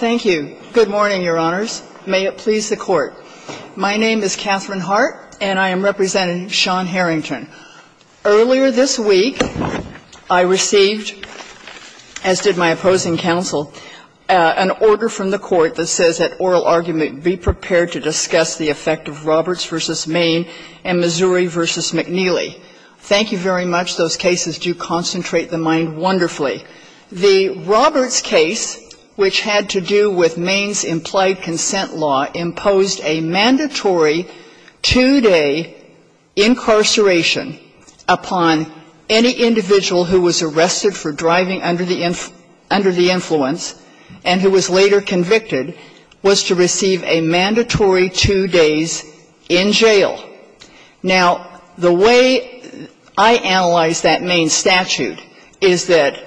Thank you. Good morning, Your Honors. May it please the Court. My name is Catherine Hart, and I am representing Sean Harrington. Earlier this week, I received, as did my opposing counsel, an order from the Court that says that oral argument be prepared to discuss the effect of Roberts v. Maine and Missouri v. McNeely. Thank you very much. Those cases do concentrate the mind wonderfully. The Roberts case, which had to do with Maine's implied consent law, imposed a mandatory two-day incarceration upon any individual who was arrested for driving under the influence and who was later convicted was to receive a mandatory two days in jail. Now, the way I analyzed that Maine statute is that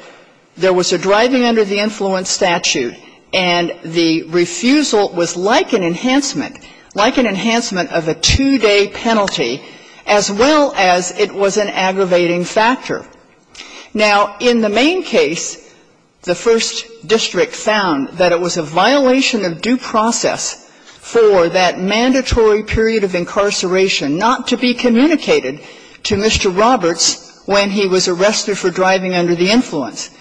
there was a driving under the influence statute, and the refusal was like an enhancement, like an enhancement of a two-day penalty, as well as it was an aggravating factor. Now, in the Maine case, the first district found that it was a violation of due process for that mandatory period of incarceration not to be communicated to Mr. Roberts when he was arrested for driving under the influence.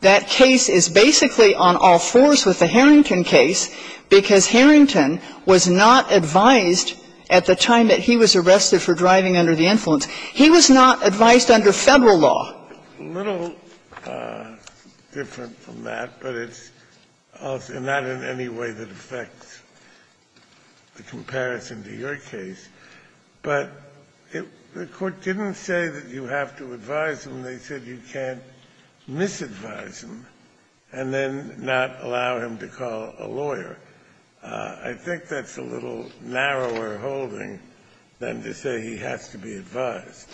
That case is basically on all fours with the Harrington case because Harrington was not advised at the time that he was arrested for driving under the influence. He was not advised under Federal law. It's a little different from that, but it's also not in any way that affects the comparison to your case. But the Court didn't say that you have to advise him. They said you can't misadvise him and then not allow him to call a lawyer. I think that's a little narrower holding than to say he has to be advised.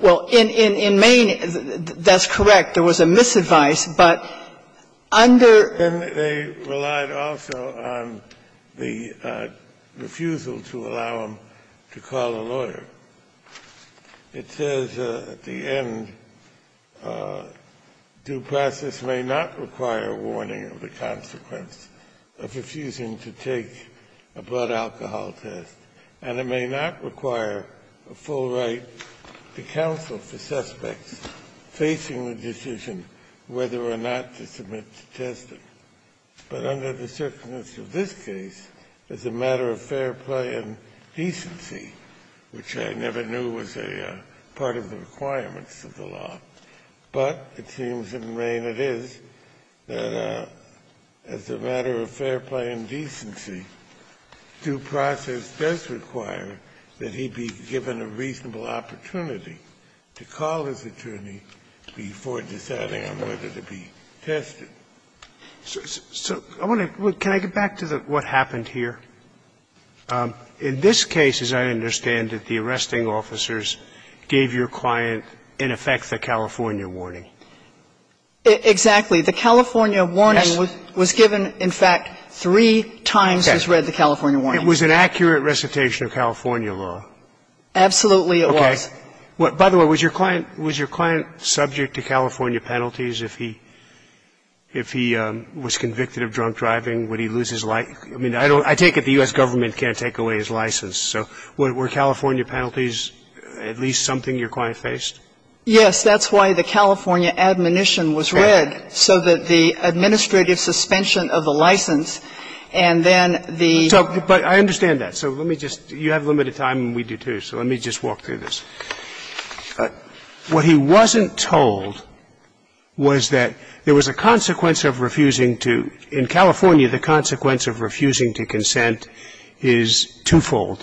Well, in Maine, that's correct. There was a misadvice, but under the statute, there was a misadvice. Kennedy, they relied also on the refusal to allow him to call a lawyer. It says at the end, due process may not require a warning of the consequence of refusing to take a blood alcohol test, and it may not require a full right to counsel for suspects facing the decision whether or not to submit to testing. But under the circumstance of this case, it's a matter of fair play and decency, which I never knew was a part of the requirements of the law. But it seems in Maine it is, that as a matter of fair play and decency, due process does require that he be given a reasonable opportunity to call his attorney before deciding on whether to be tested. So I want to go back to what happened here. In this case, as I understand it, the arresting officers gave your client, in effect, the California warning. Exactly. The California warning was given, in fact, three times as read, the California warning. It was an accurate recitation of California law. Absolutely it was. Okay. By the way, was your client subject to California penalties if he was convicted of drunk driving, would he lose his license? I mean, I take it the U.S. Government can't take away his license. So were California penalties at least something your client faced? Yes, that's why the California admonition was read, so that the administrative suspension of the license and then the So, but I understand that. So let me just, you have limited time and we do, too, so let me just walk through this. What he wasn't told was that there was a consequence of refusing to, in California, the consequence of refusing to consent is twofold.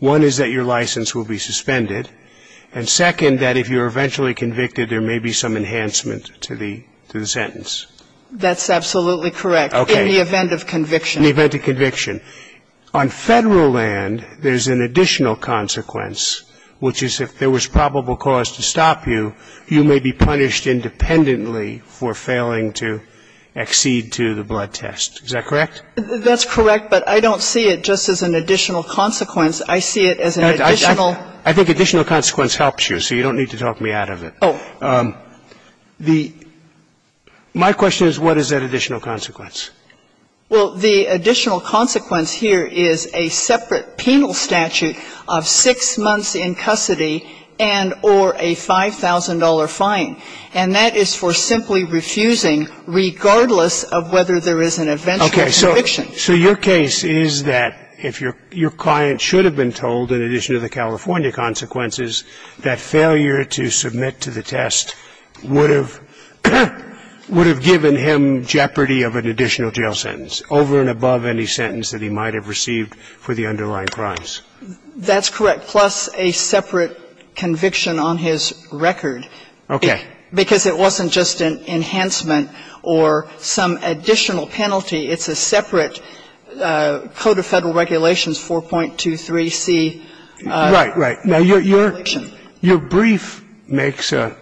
One is that your license will be suspended, and second, that if you're eventually convicted, there may be some enhancement to the sentence. That's absolutely correct. Okay. In the event of conviction. In the event of conviction. On Federal land, there's an additional consequence, which is if there was probable cause to stop you, you may be punished independently for failing to accede to the blood test. Is that correct? That's correct, but I don't see it just as an additional consequence. I see it as an additional. I think additional consequence helps you, so you don't need to talk me out of it. Oh. The, my question is what is that additional consequence? Well, the additional consequence here is a separate penal statute of six months in custody and or a $5,000 fine. And that is for simply refusing, regardless of whether there is an eventual conviction. So your case is that if your client should have been told, in addition to the California consequences, that failure to submit to the test would have given him jeopardy of an additional jail sentence, over and above any sentence that he might have received for the underlying crimes. That's correct, plus a separate conviction on his record. Okay. Because it wasn't just an enhancement or some additional penalty. It's a separate Code of Federal Regulations 4.23c. Right, right. Now, your brief makes an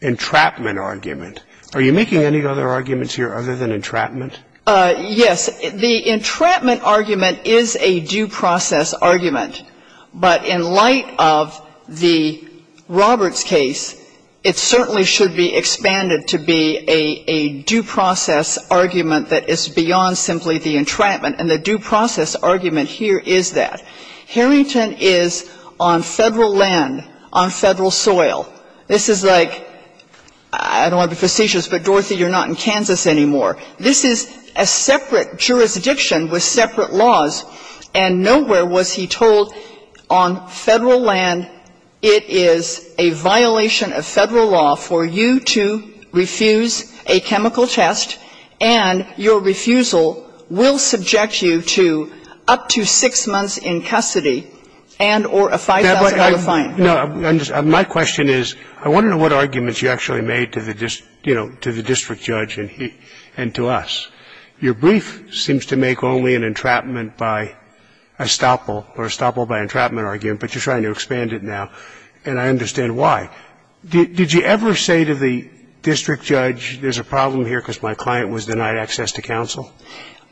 entrapment argument. Are you making any other arguments here other than entrapment? Yes. The entrapment argument is a due process argument. But in light of the Roberts case, it certainly should be expanded to be a due process argument that is beyond simply the entrapment. And the due process argument here is that. Harrington is on Federal land, on Federal soil. This is like, I don't want to be facetious, but, Dorothy, you're not in Kansas anymore. This is a separate jurisdiction with separate laws. And nowhere was he told on Federal land, it is a violation of Federal law for you to refuse a chemical test, and your refusal will subject you to up to six months in custody and or a $5,000 fine. No, my question is, I want to know what arguments you actually made to the, you know, to the district judge and to us. Your brief seems to make only an entrapment by estoppel or estoppel by entrapment argument, but you're trying to expand it now, and I understand why. Did you ever say to the district judge, there's a problem here because my client was denied access to counsel?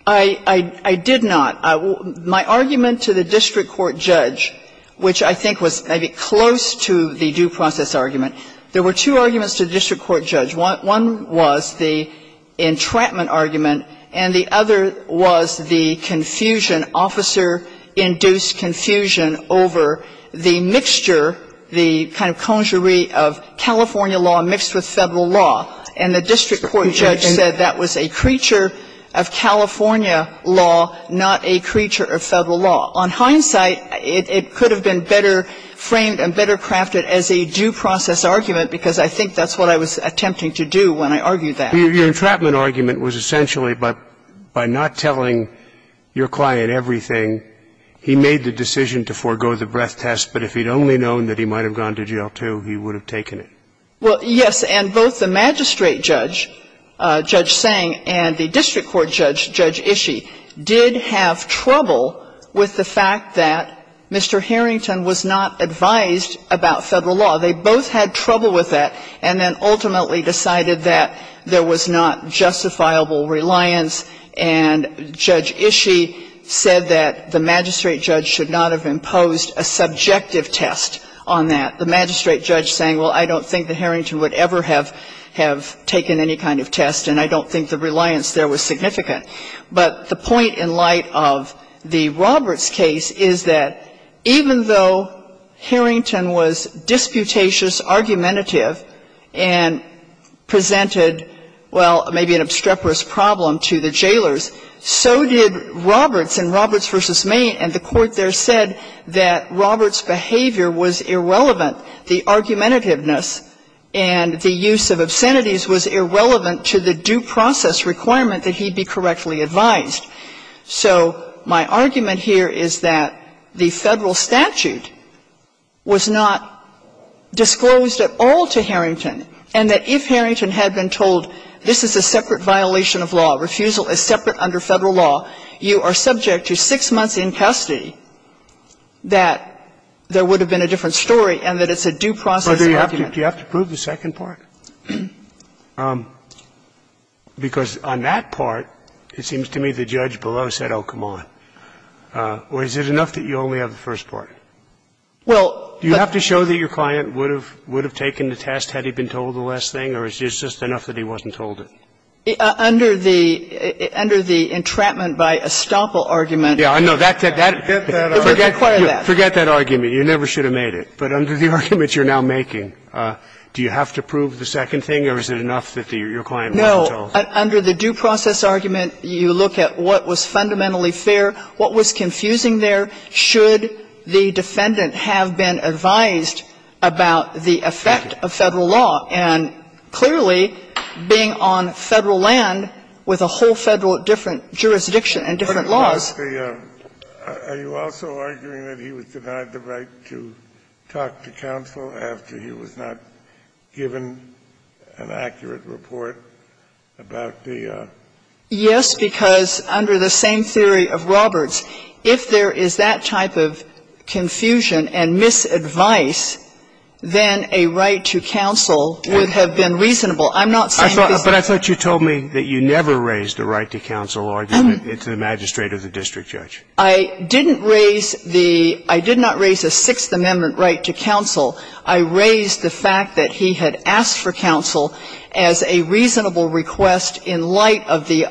I did not. My argument to the district court judge, which I think was maybe close to the due process argument, there were two arguments to the district court judge. One was the entrapment argument, and the other was the confusion, officer-induced confusion over the mixture, the kind of conjury of California law mixed with Federal law. And the district court judge said that was a creature of California law, not a creature of Federal law. On hindsight, it could have been better framed and better crafted as a due process argument, because I think that's what I was attempting to do when I argued that. Your entrapment argument was essentially by not telling your client everything, he made the decision to forego the breath test, but if he'd only known that he might have gone to jail, too, he would have taken it. Well, yes, and both the magistrate judge, Judge Sang, and the district court judge, Judge Ishii, did have trouble with the fact that Mr. Harrington was not advised about Federal law. They both had trouble with that, and then ultimately decided that there was not justifiable reliance, and Judge Ishii said that the magistrate judge should not have imposed a subjective test on that. The magistrate judge saying, well, I don't think that Harrington would ever have taken any kind of test, and I don't think the reliance there was significant. But the point in light of the Roberts case is that even though Harrington was disputatious, argumentative, and presented, well, maybe an obstreperous problem to the jailers, so did Roberts in Roberts v. Maine, and the Court there said that Roberts' behavior was irrelevant. The argumentativeness and the use of obscenities was irrelevant to the due process requirement that he be correctly advised. So my argument here is that the Federal statute was not disclosed at all to Harrington, and that if Harrington had been told this is a separate violation of law, refusal is separate under Federal law, you are subject to 6 months in custody, that there would have been a different story and that it's a due process argument. Do you have to prove the second part? Because on that part, it seems to me the judge below said, oh, come on. Or is it enough that you only have the first part? You have to show that your client would have taken the test had he been told the last thing, or is it just enough that he wasn't told it? Under the entrapment by estoppel argument. Yeah, I know. Forget that argument. You never should have made it. But under the argument you're now making, do you have to prove the second thing or is it enough that your client wasn't told? No. Under the due process argument, you look at what was fundamentally fair, what was confusing there, should the defendant have been advised about the effect of Federal law. And clearly, being on Federal land with a whole Federal different jurisdiction and different laws. Are you also arguing that he was denied the right to talk to counsel after he was not given an accurate report about the? Yes, because under the same theory of Roberts, if there is that type of confusion and misadvice, then a right to counsel would have been reasonable. I'm not saying that this is not reasonable. But I thought you told me that you never raised a right to counsel argument to the magistrate or the district judge. I didn't raise the – I did not raise a Sixth Amendment right to counsel. I raised the fact that he had asked for counsel as a reasonable request in light of the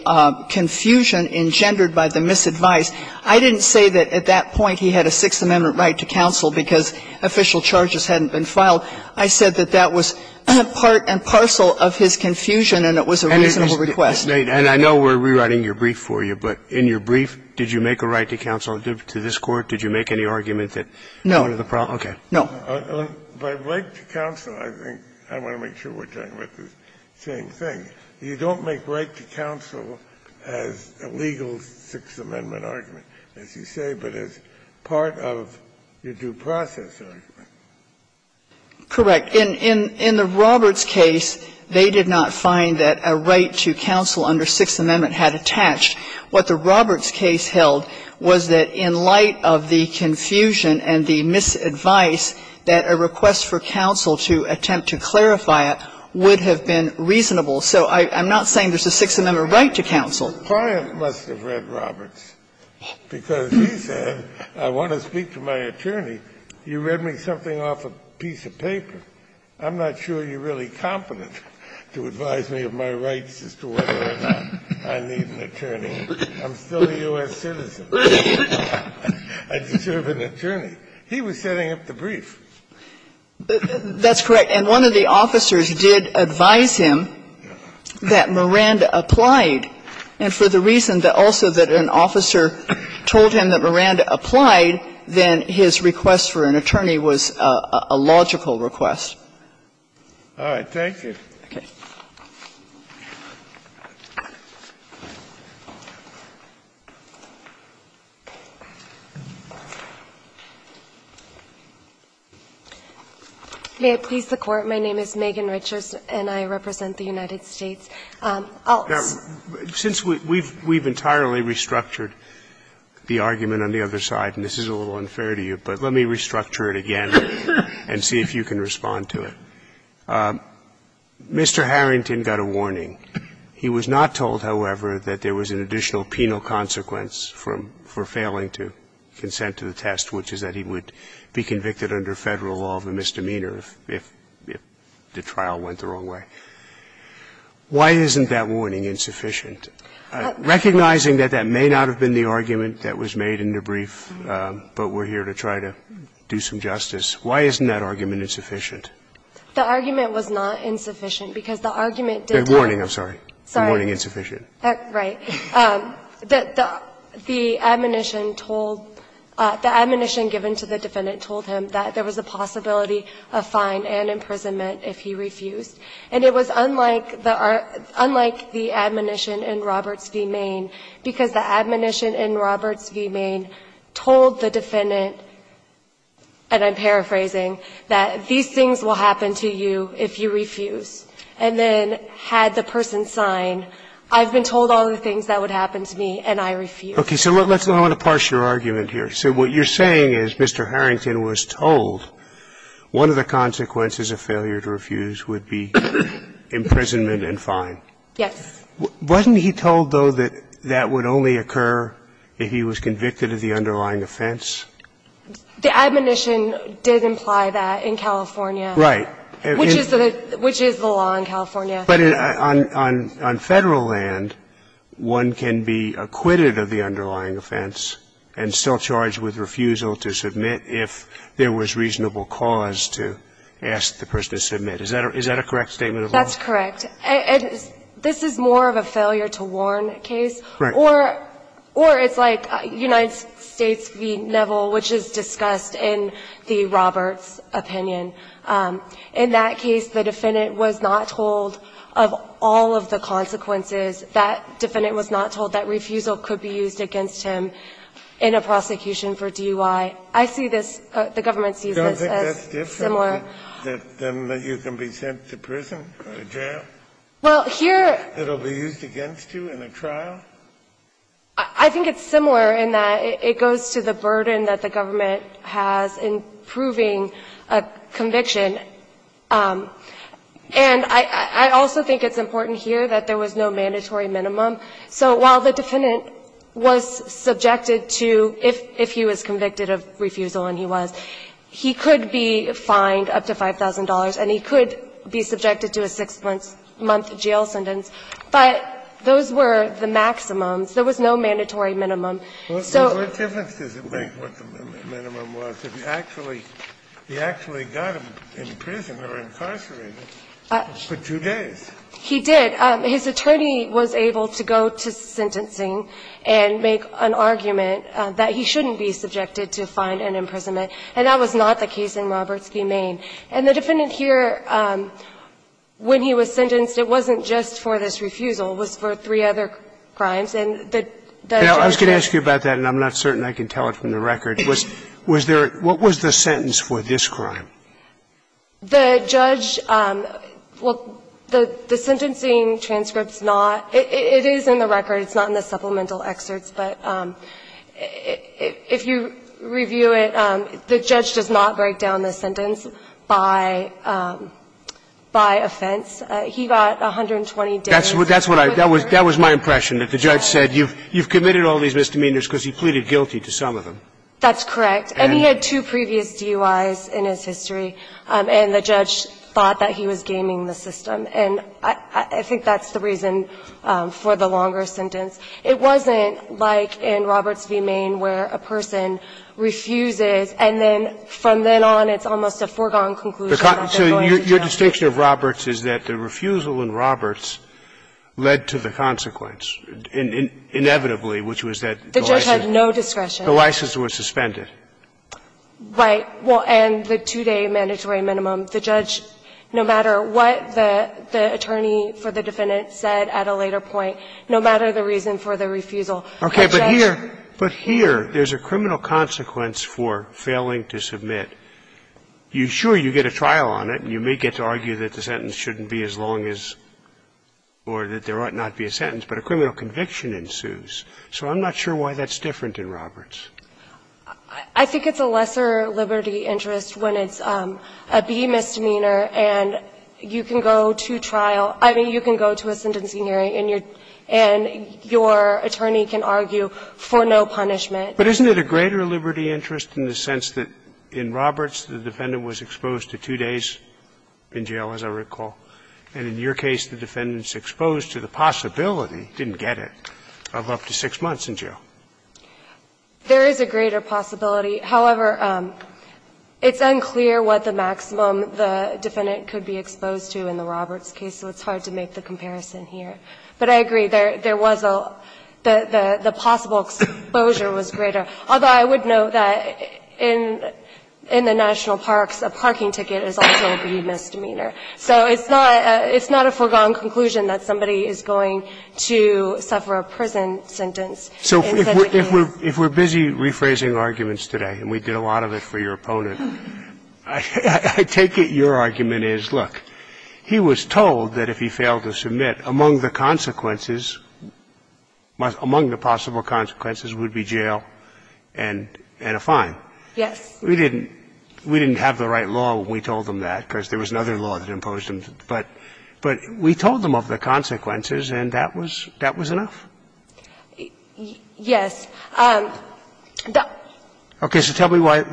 confusion engendered by the misadvice. I didn't say that at that point he had a Sixth Amendment right to counsel because official charges hadn't been filed. I said that that was part and parcel of his confusion and it was a reasonable request. And I know we're rewriting your brief for you, but in your brief, did you make a right to counsel to this Court? Did you make any argument that one of the problems? No. Okay. No. By right to counsel, I think I want to make sure we're talking about the same thing. You don't make right to counsel as a legal Sixth Amendment argument, as you say, but as part of your due process argument. Correct. In the Roberts case, they did not find that a right to counsel under Sixth Amendment had attached. What the Roberts case held was that in light of the confusion and the misadvice, that a request for counsel to attempt to clarify it would have been reasonable. So I'm not saying there's a Sixth Amendment right to counsel. The client must have read Roberts, because he said, I want to speak to my attorney. You read me something off a piece of paper. I'm not sure you're really competent to advise me of my rights as to whether or not I need an attorney. I'm still a U.S. citizen. I deserve an attorney. He was setting up the brief. That's correct. And one of the officers did advise him that Miranda applied. And for the reason also that an officer told him that Miranda applied, then his request for an attorney was a logical request. All right. Thank you. Okay. May it please the Court. My name is Megan Richards, and I represent the United States. Since we've entirely restructured the argument on the other side, and this is a little unfair to you, but let me restructure it again and see if you can respond to it. Mr. Harrington got a warning. He was not told, however, that there was an additional penal consequence for failing to consent to the test, which is that he would be convicted under Federal law of a misdemeanor if the trial went the wrong way. Why isn't that warning insufficient? Recognizing that that may not have been the argument that was made in the brief, but we're here to try to do some justice, why isn't that argument insufficient? The argument was not insufficient, because the argument did not. The warning, I'm sorry. The warning insufficient. Right. The admonition told the admonition given to the defendant told him that there was a possibility of fine and imprisonment if he refused. And it was unlike the admonition in Roberts v. Maine, because the admonition in Roberts v. Maine told the defendant, and I'm paraphrasing, that these things will happen to you if you refuse. And then had the person signed, I've been told all the things that would happen to me, and I refuse. Okay. So let's go on to parse your argument here. So what you're saying is Mr. Harrington was told one of the consequences of failure to refuse would be imprisonment and fine. Yes. Wasn't he told, though, that that would only occur if he was convicted of the underlying offense? The admonition did imply that in California. Right. Which is the law in California. But on Federal land, one can be acquitted of the underlying offense and still charged with refusal to submit if there was reasonable cause to ask the person to submit. Is that a correct statement of law? That's correct. And this is more of a failure to warn case. Right. Or it's like United States v. Neville, which is discussed in the Roberts opinion. In that case, the defendant was not told of all of the consequences. That defendant was not told that refusal could be used against him in a prosecution for DUI. I see this as the government sees this as similar. Then you can be sent to prison or jail? Well, here. It will be used against you in a trial? I think it's similar in that it goes to the burden that the government has in proving a conviction. And I also think it's important here that there was no mandatory minimum. So while the defendant was subjected to, if he was convicted of refusal, and he was, he could be fined up to $5,000 and he could be subjected to a 6-month jail sentence. But those were the maximums. There was no mandatory minimum. So the difference is what the minimum was. He actually got him in prison or incarcerated for two days. He did. His attorney was able to go to sentencing and make an argument that he shouldn't be subjected to fine and imprisonment. And that was not the case in Roberts v. Maine. And the defendant here, when he was sentenced, it wasn't just for this refusal. It was for three other crimes. And the judge said that. I was going to ask you about that, and I'm not certain I can tell it from the record. Was there – what was the sentence for this crime? The judge – well, the sentencing transcript's not – it is in the record. It's not in the supplemental excerpts. But if you review it, the judge does not break down the sentence by offense. He got 120 days. That's what I – that was my impression, that the judge said, you've committed all these misdemeanors because he pleaded guilty to some of them. That's correct. And he had two previous DUIs in his history, and the judge thought that he was gaming the system. And I think that's the reason for the longer sentence. It wasn't like in Roberts v. Maine where a person refuses, and then from then on it's almost a foregone conclusion that they're going to jail. So your distinction of Roberts is that the refusal in Roberts led to the consequence, inevitably, which was that the license – The judge had no discretion. The license was suspended. Right. Well, and the two-day mandatory minimum. The judge, no matter what the attorney for the defendant said at a later point, no matter the reason for the refusal, the judge – Okay. But here – but here there's a criminal consequence for failing to submit. You – sure, you get a trial on it, and you may get to argue that the sentence shouldn't be as long as – or that there ought not to be a sentence, but a criminal conviction ensues. So I'm not sure why that's different in Roberts. I think it's a lesser liberty interest when it's a B misdemeanor and you can go to trial – I mean, you can go to a sentencing hearing and your attorney can argue for no punishment. But isn't it a greater liberty interest in the sense that in Roberts the defendant was exposed to two days in jail, as I recall, and in your case the defendant is exposed to the possibility, didn't get it, of up to six months in jail? There is a greater possibility. However, it's unclear what the maximum the defendant could be exposed to in the Roberts case, so it's hard to make the comparison here. But I agree. There was a – the possible exposure was greater, although I would note that in – in the national parks, a parking ticket is also a B misdemeanor. So it's not a – it's not a foregone conclusion that somebody is going to suffer a prison sentence in such a case. So if we're – if we're busy rephrasing arguments today, and we did a lot of it for your opponent, I – I take it your argument is, look, he was told that if he failed to submit, among the consequences – among the possible consequences would be jail and – and a fine. Yes. We didn't – we didn't have the right law when we told them that, because there was another law that imposed them. But – but we told them of the consequences, and that was – that was enough? Yes. Okay. So tell me why –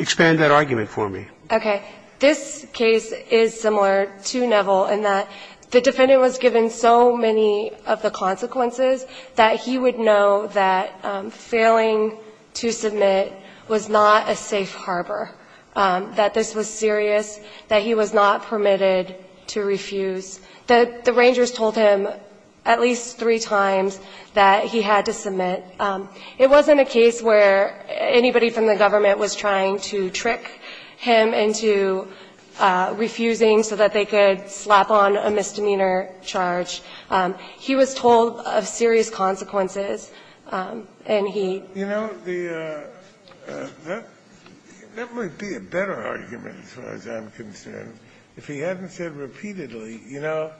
expand that argument for me. Okay. This case is similar to Neville in that the defendant was given so many of the consequences that he would know that failing to submit was not a safe harbor, that this was serious, that he was not permitted to refuse. The – the Rangers told him at least three times that he had to submit. It wasn't a case where anybody from the government was trying to trick him into refusing so that they could slap on a misdemeanor charge. He was told of serious consequences, and he – You know, the – that might be a better argument, as far as I'm concerned. If he hadn't said repeatedly, you know,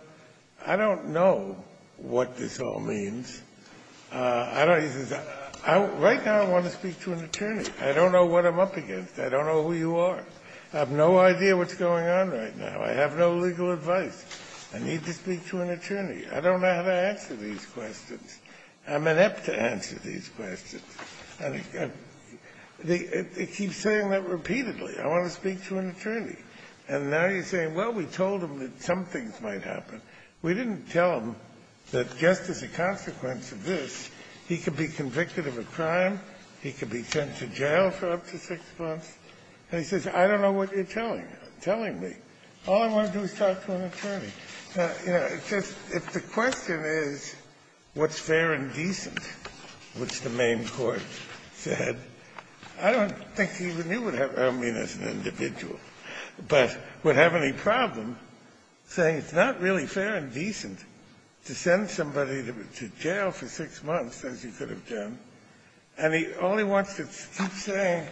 I don't know what this all means. I don't – he says, right now I want to speak to an attorney. I don't know what I'm up against. I don't know who you are. I have no idea what's going on right now. I have no legal advice. I need to speak to an attorney. I don't know how to answer these questions. I'm inept to answer these questions. And he's got – he keeps saying that repeatedly, I want to speak to an attorney. And now he's saying, well, we told him that some things might happen. We didn't tell him that just as a consequence of this, he could be convicted of a crime, he could be sent to jail for up to six months. And he says, I don't know what you're telling me. All I want to do is talk to an attorney. You know, it's just – if the question is what's fair and decent, which the main court said, I don't think he even knew what happened – I don't mean as an individual. But would have any problem saying it's not really fair and decent to send somebody to jail for six months, as you could have done. And all he wants to keep saying,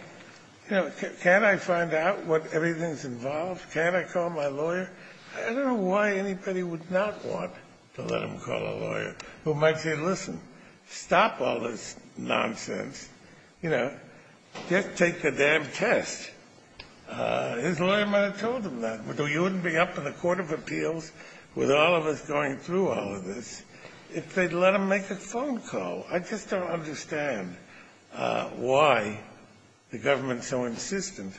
you know, can't I find out what everything's involved? Can't I call my lawyer? I don't know why anybody would not want to let him call a lawyer, who might say, listen, stop all this nonsense. You know, just take the damn test. His lawyer might have told him that. You wouldn't be up in the Court of Appeals with all of us going through all of this if they'd let him make a phone call. I just don't understand why the government's so insistent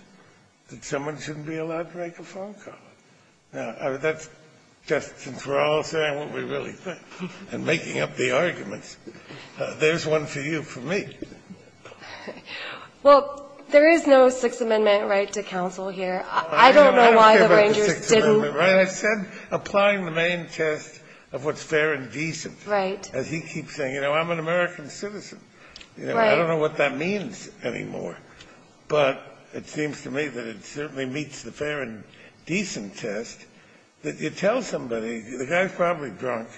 that someone shouldn't be allowed to make a phone call. Now, that's just – since we're all saying what we really think and making up the arguments, there's one for you, for me. Well, there is no Sixth Amendment right to counsel here. I don't know why the Rangers didn't – I said applying the main test of what's fair and decent. Right. As he keeps saying, you know, I'm an American citizen. I don't know what that means anymore. But it seems to me that it certainly meets the fair and decent test that you tell somebody – the guy's probably drunk.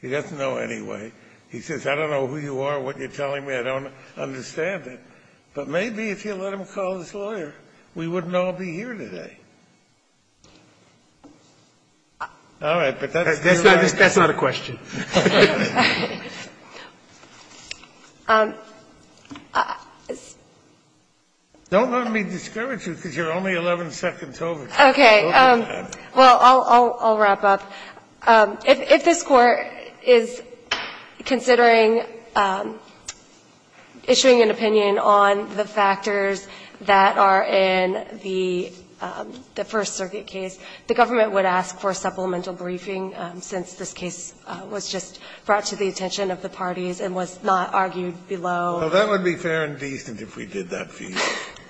He doesn't know anyway. He says, I don't know who you are, what you're telling me. I don't understand it. But maybe if you let him call his lawyer, we wouldn't all be here today. All right. But that's your line. That's not a question. Don't let me discourage you, because you're only 11 seconds over. Okay. Well, I'll wrap up. If this Court is considering issuing an opinion on the factors that are in the First Circuit case, the government would ask for a supplemental briefing, since this case was just brought to the attention of the parties and was not argued below. Well, that would be fair and decent if we did that for you. Thank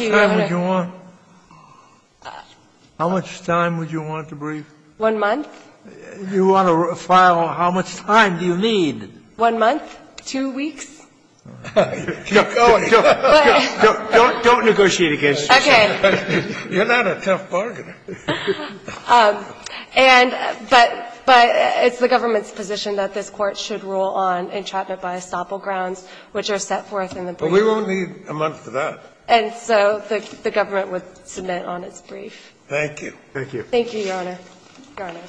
you, Your Honor. Sotomayor, how much time would you want to brief? One month. You want to file – how much time do you need? One month, two weeks. Don't negotiate against yourself. Okay. You're not a tough bargain. And – but it's the government's position that this Court should rule on entrapment by estoppel grounds, which are set forth in the brief. But we won't need a month for that. And so the government would submit on its brief. Thank you. Thank you. Thank you, Your Honor. Your Honor.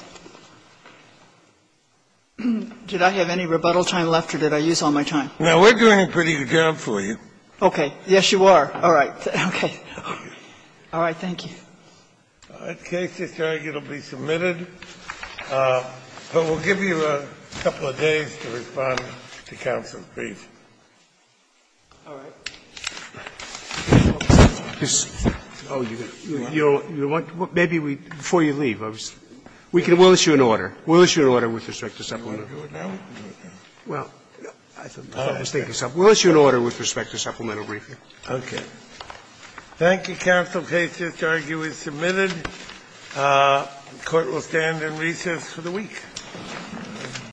Did I have any rebuttal time left, or did I use all my time? No, we're doing a pretty good job for you. Okay. Yes, you are. All right. Okay. All right. Thank you. The case is arguably submitted. But we'll give you a couple of days to respond to counsel's brief. All right. Oh, you're going to – you don't want – maybe we – before you leave, I was – we can – we'll issue an order. We'll issue an order with respect to supplemental briefing. Well, I was thinking something. We'll issue an order with respect to supplemental briefing. Okay. Thank you, counsel. The case is arguably submitted. The Court will stand in recess for the week.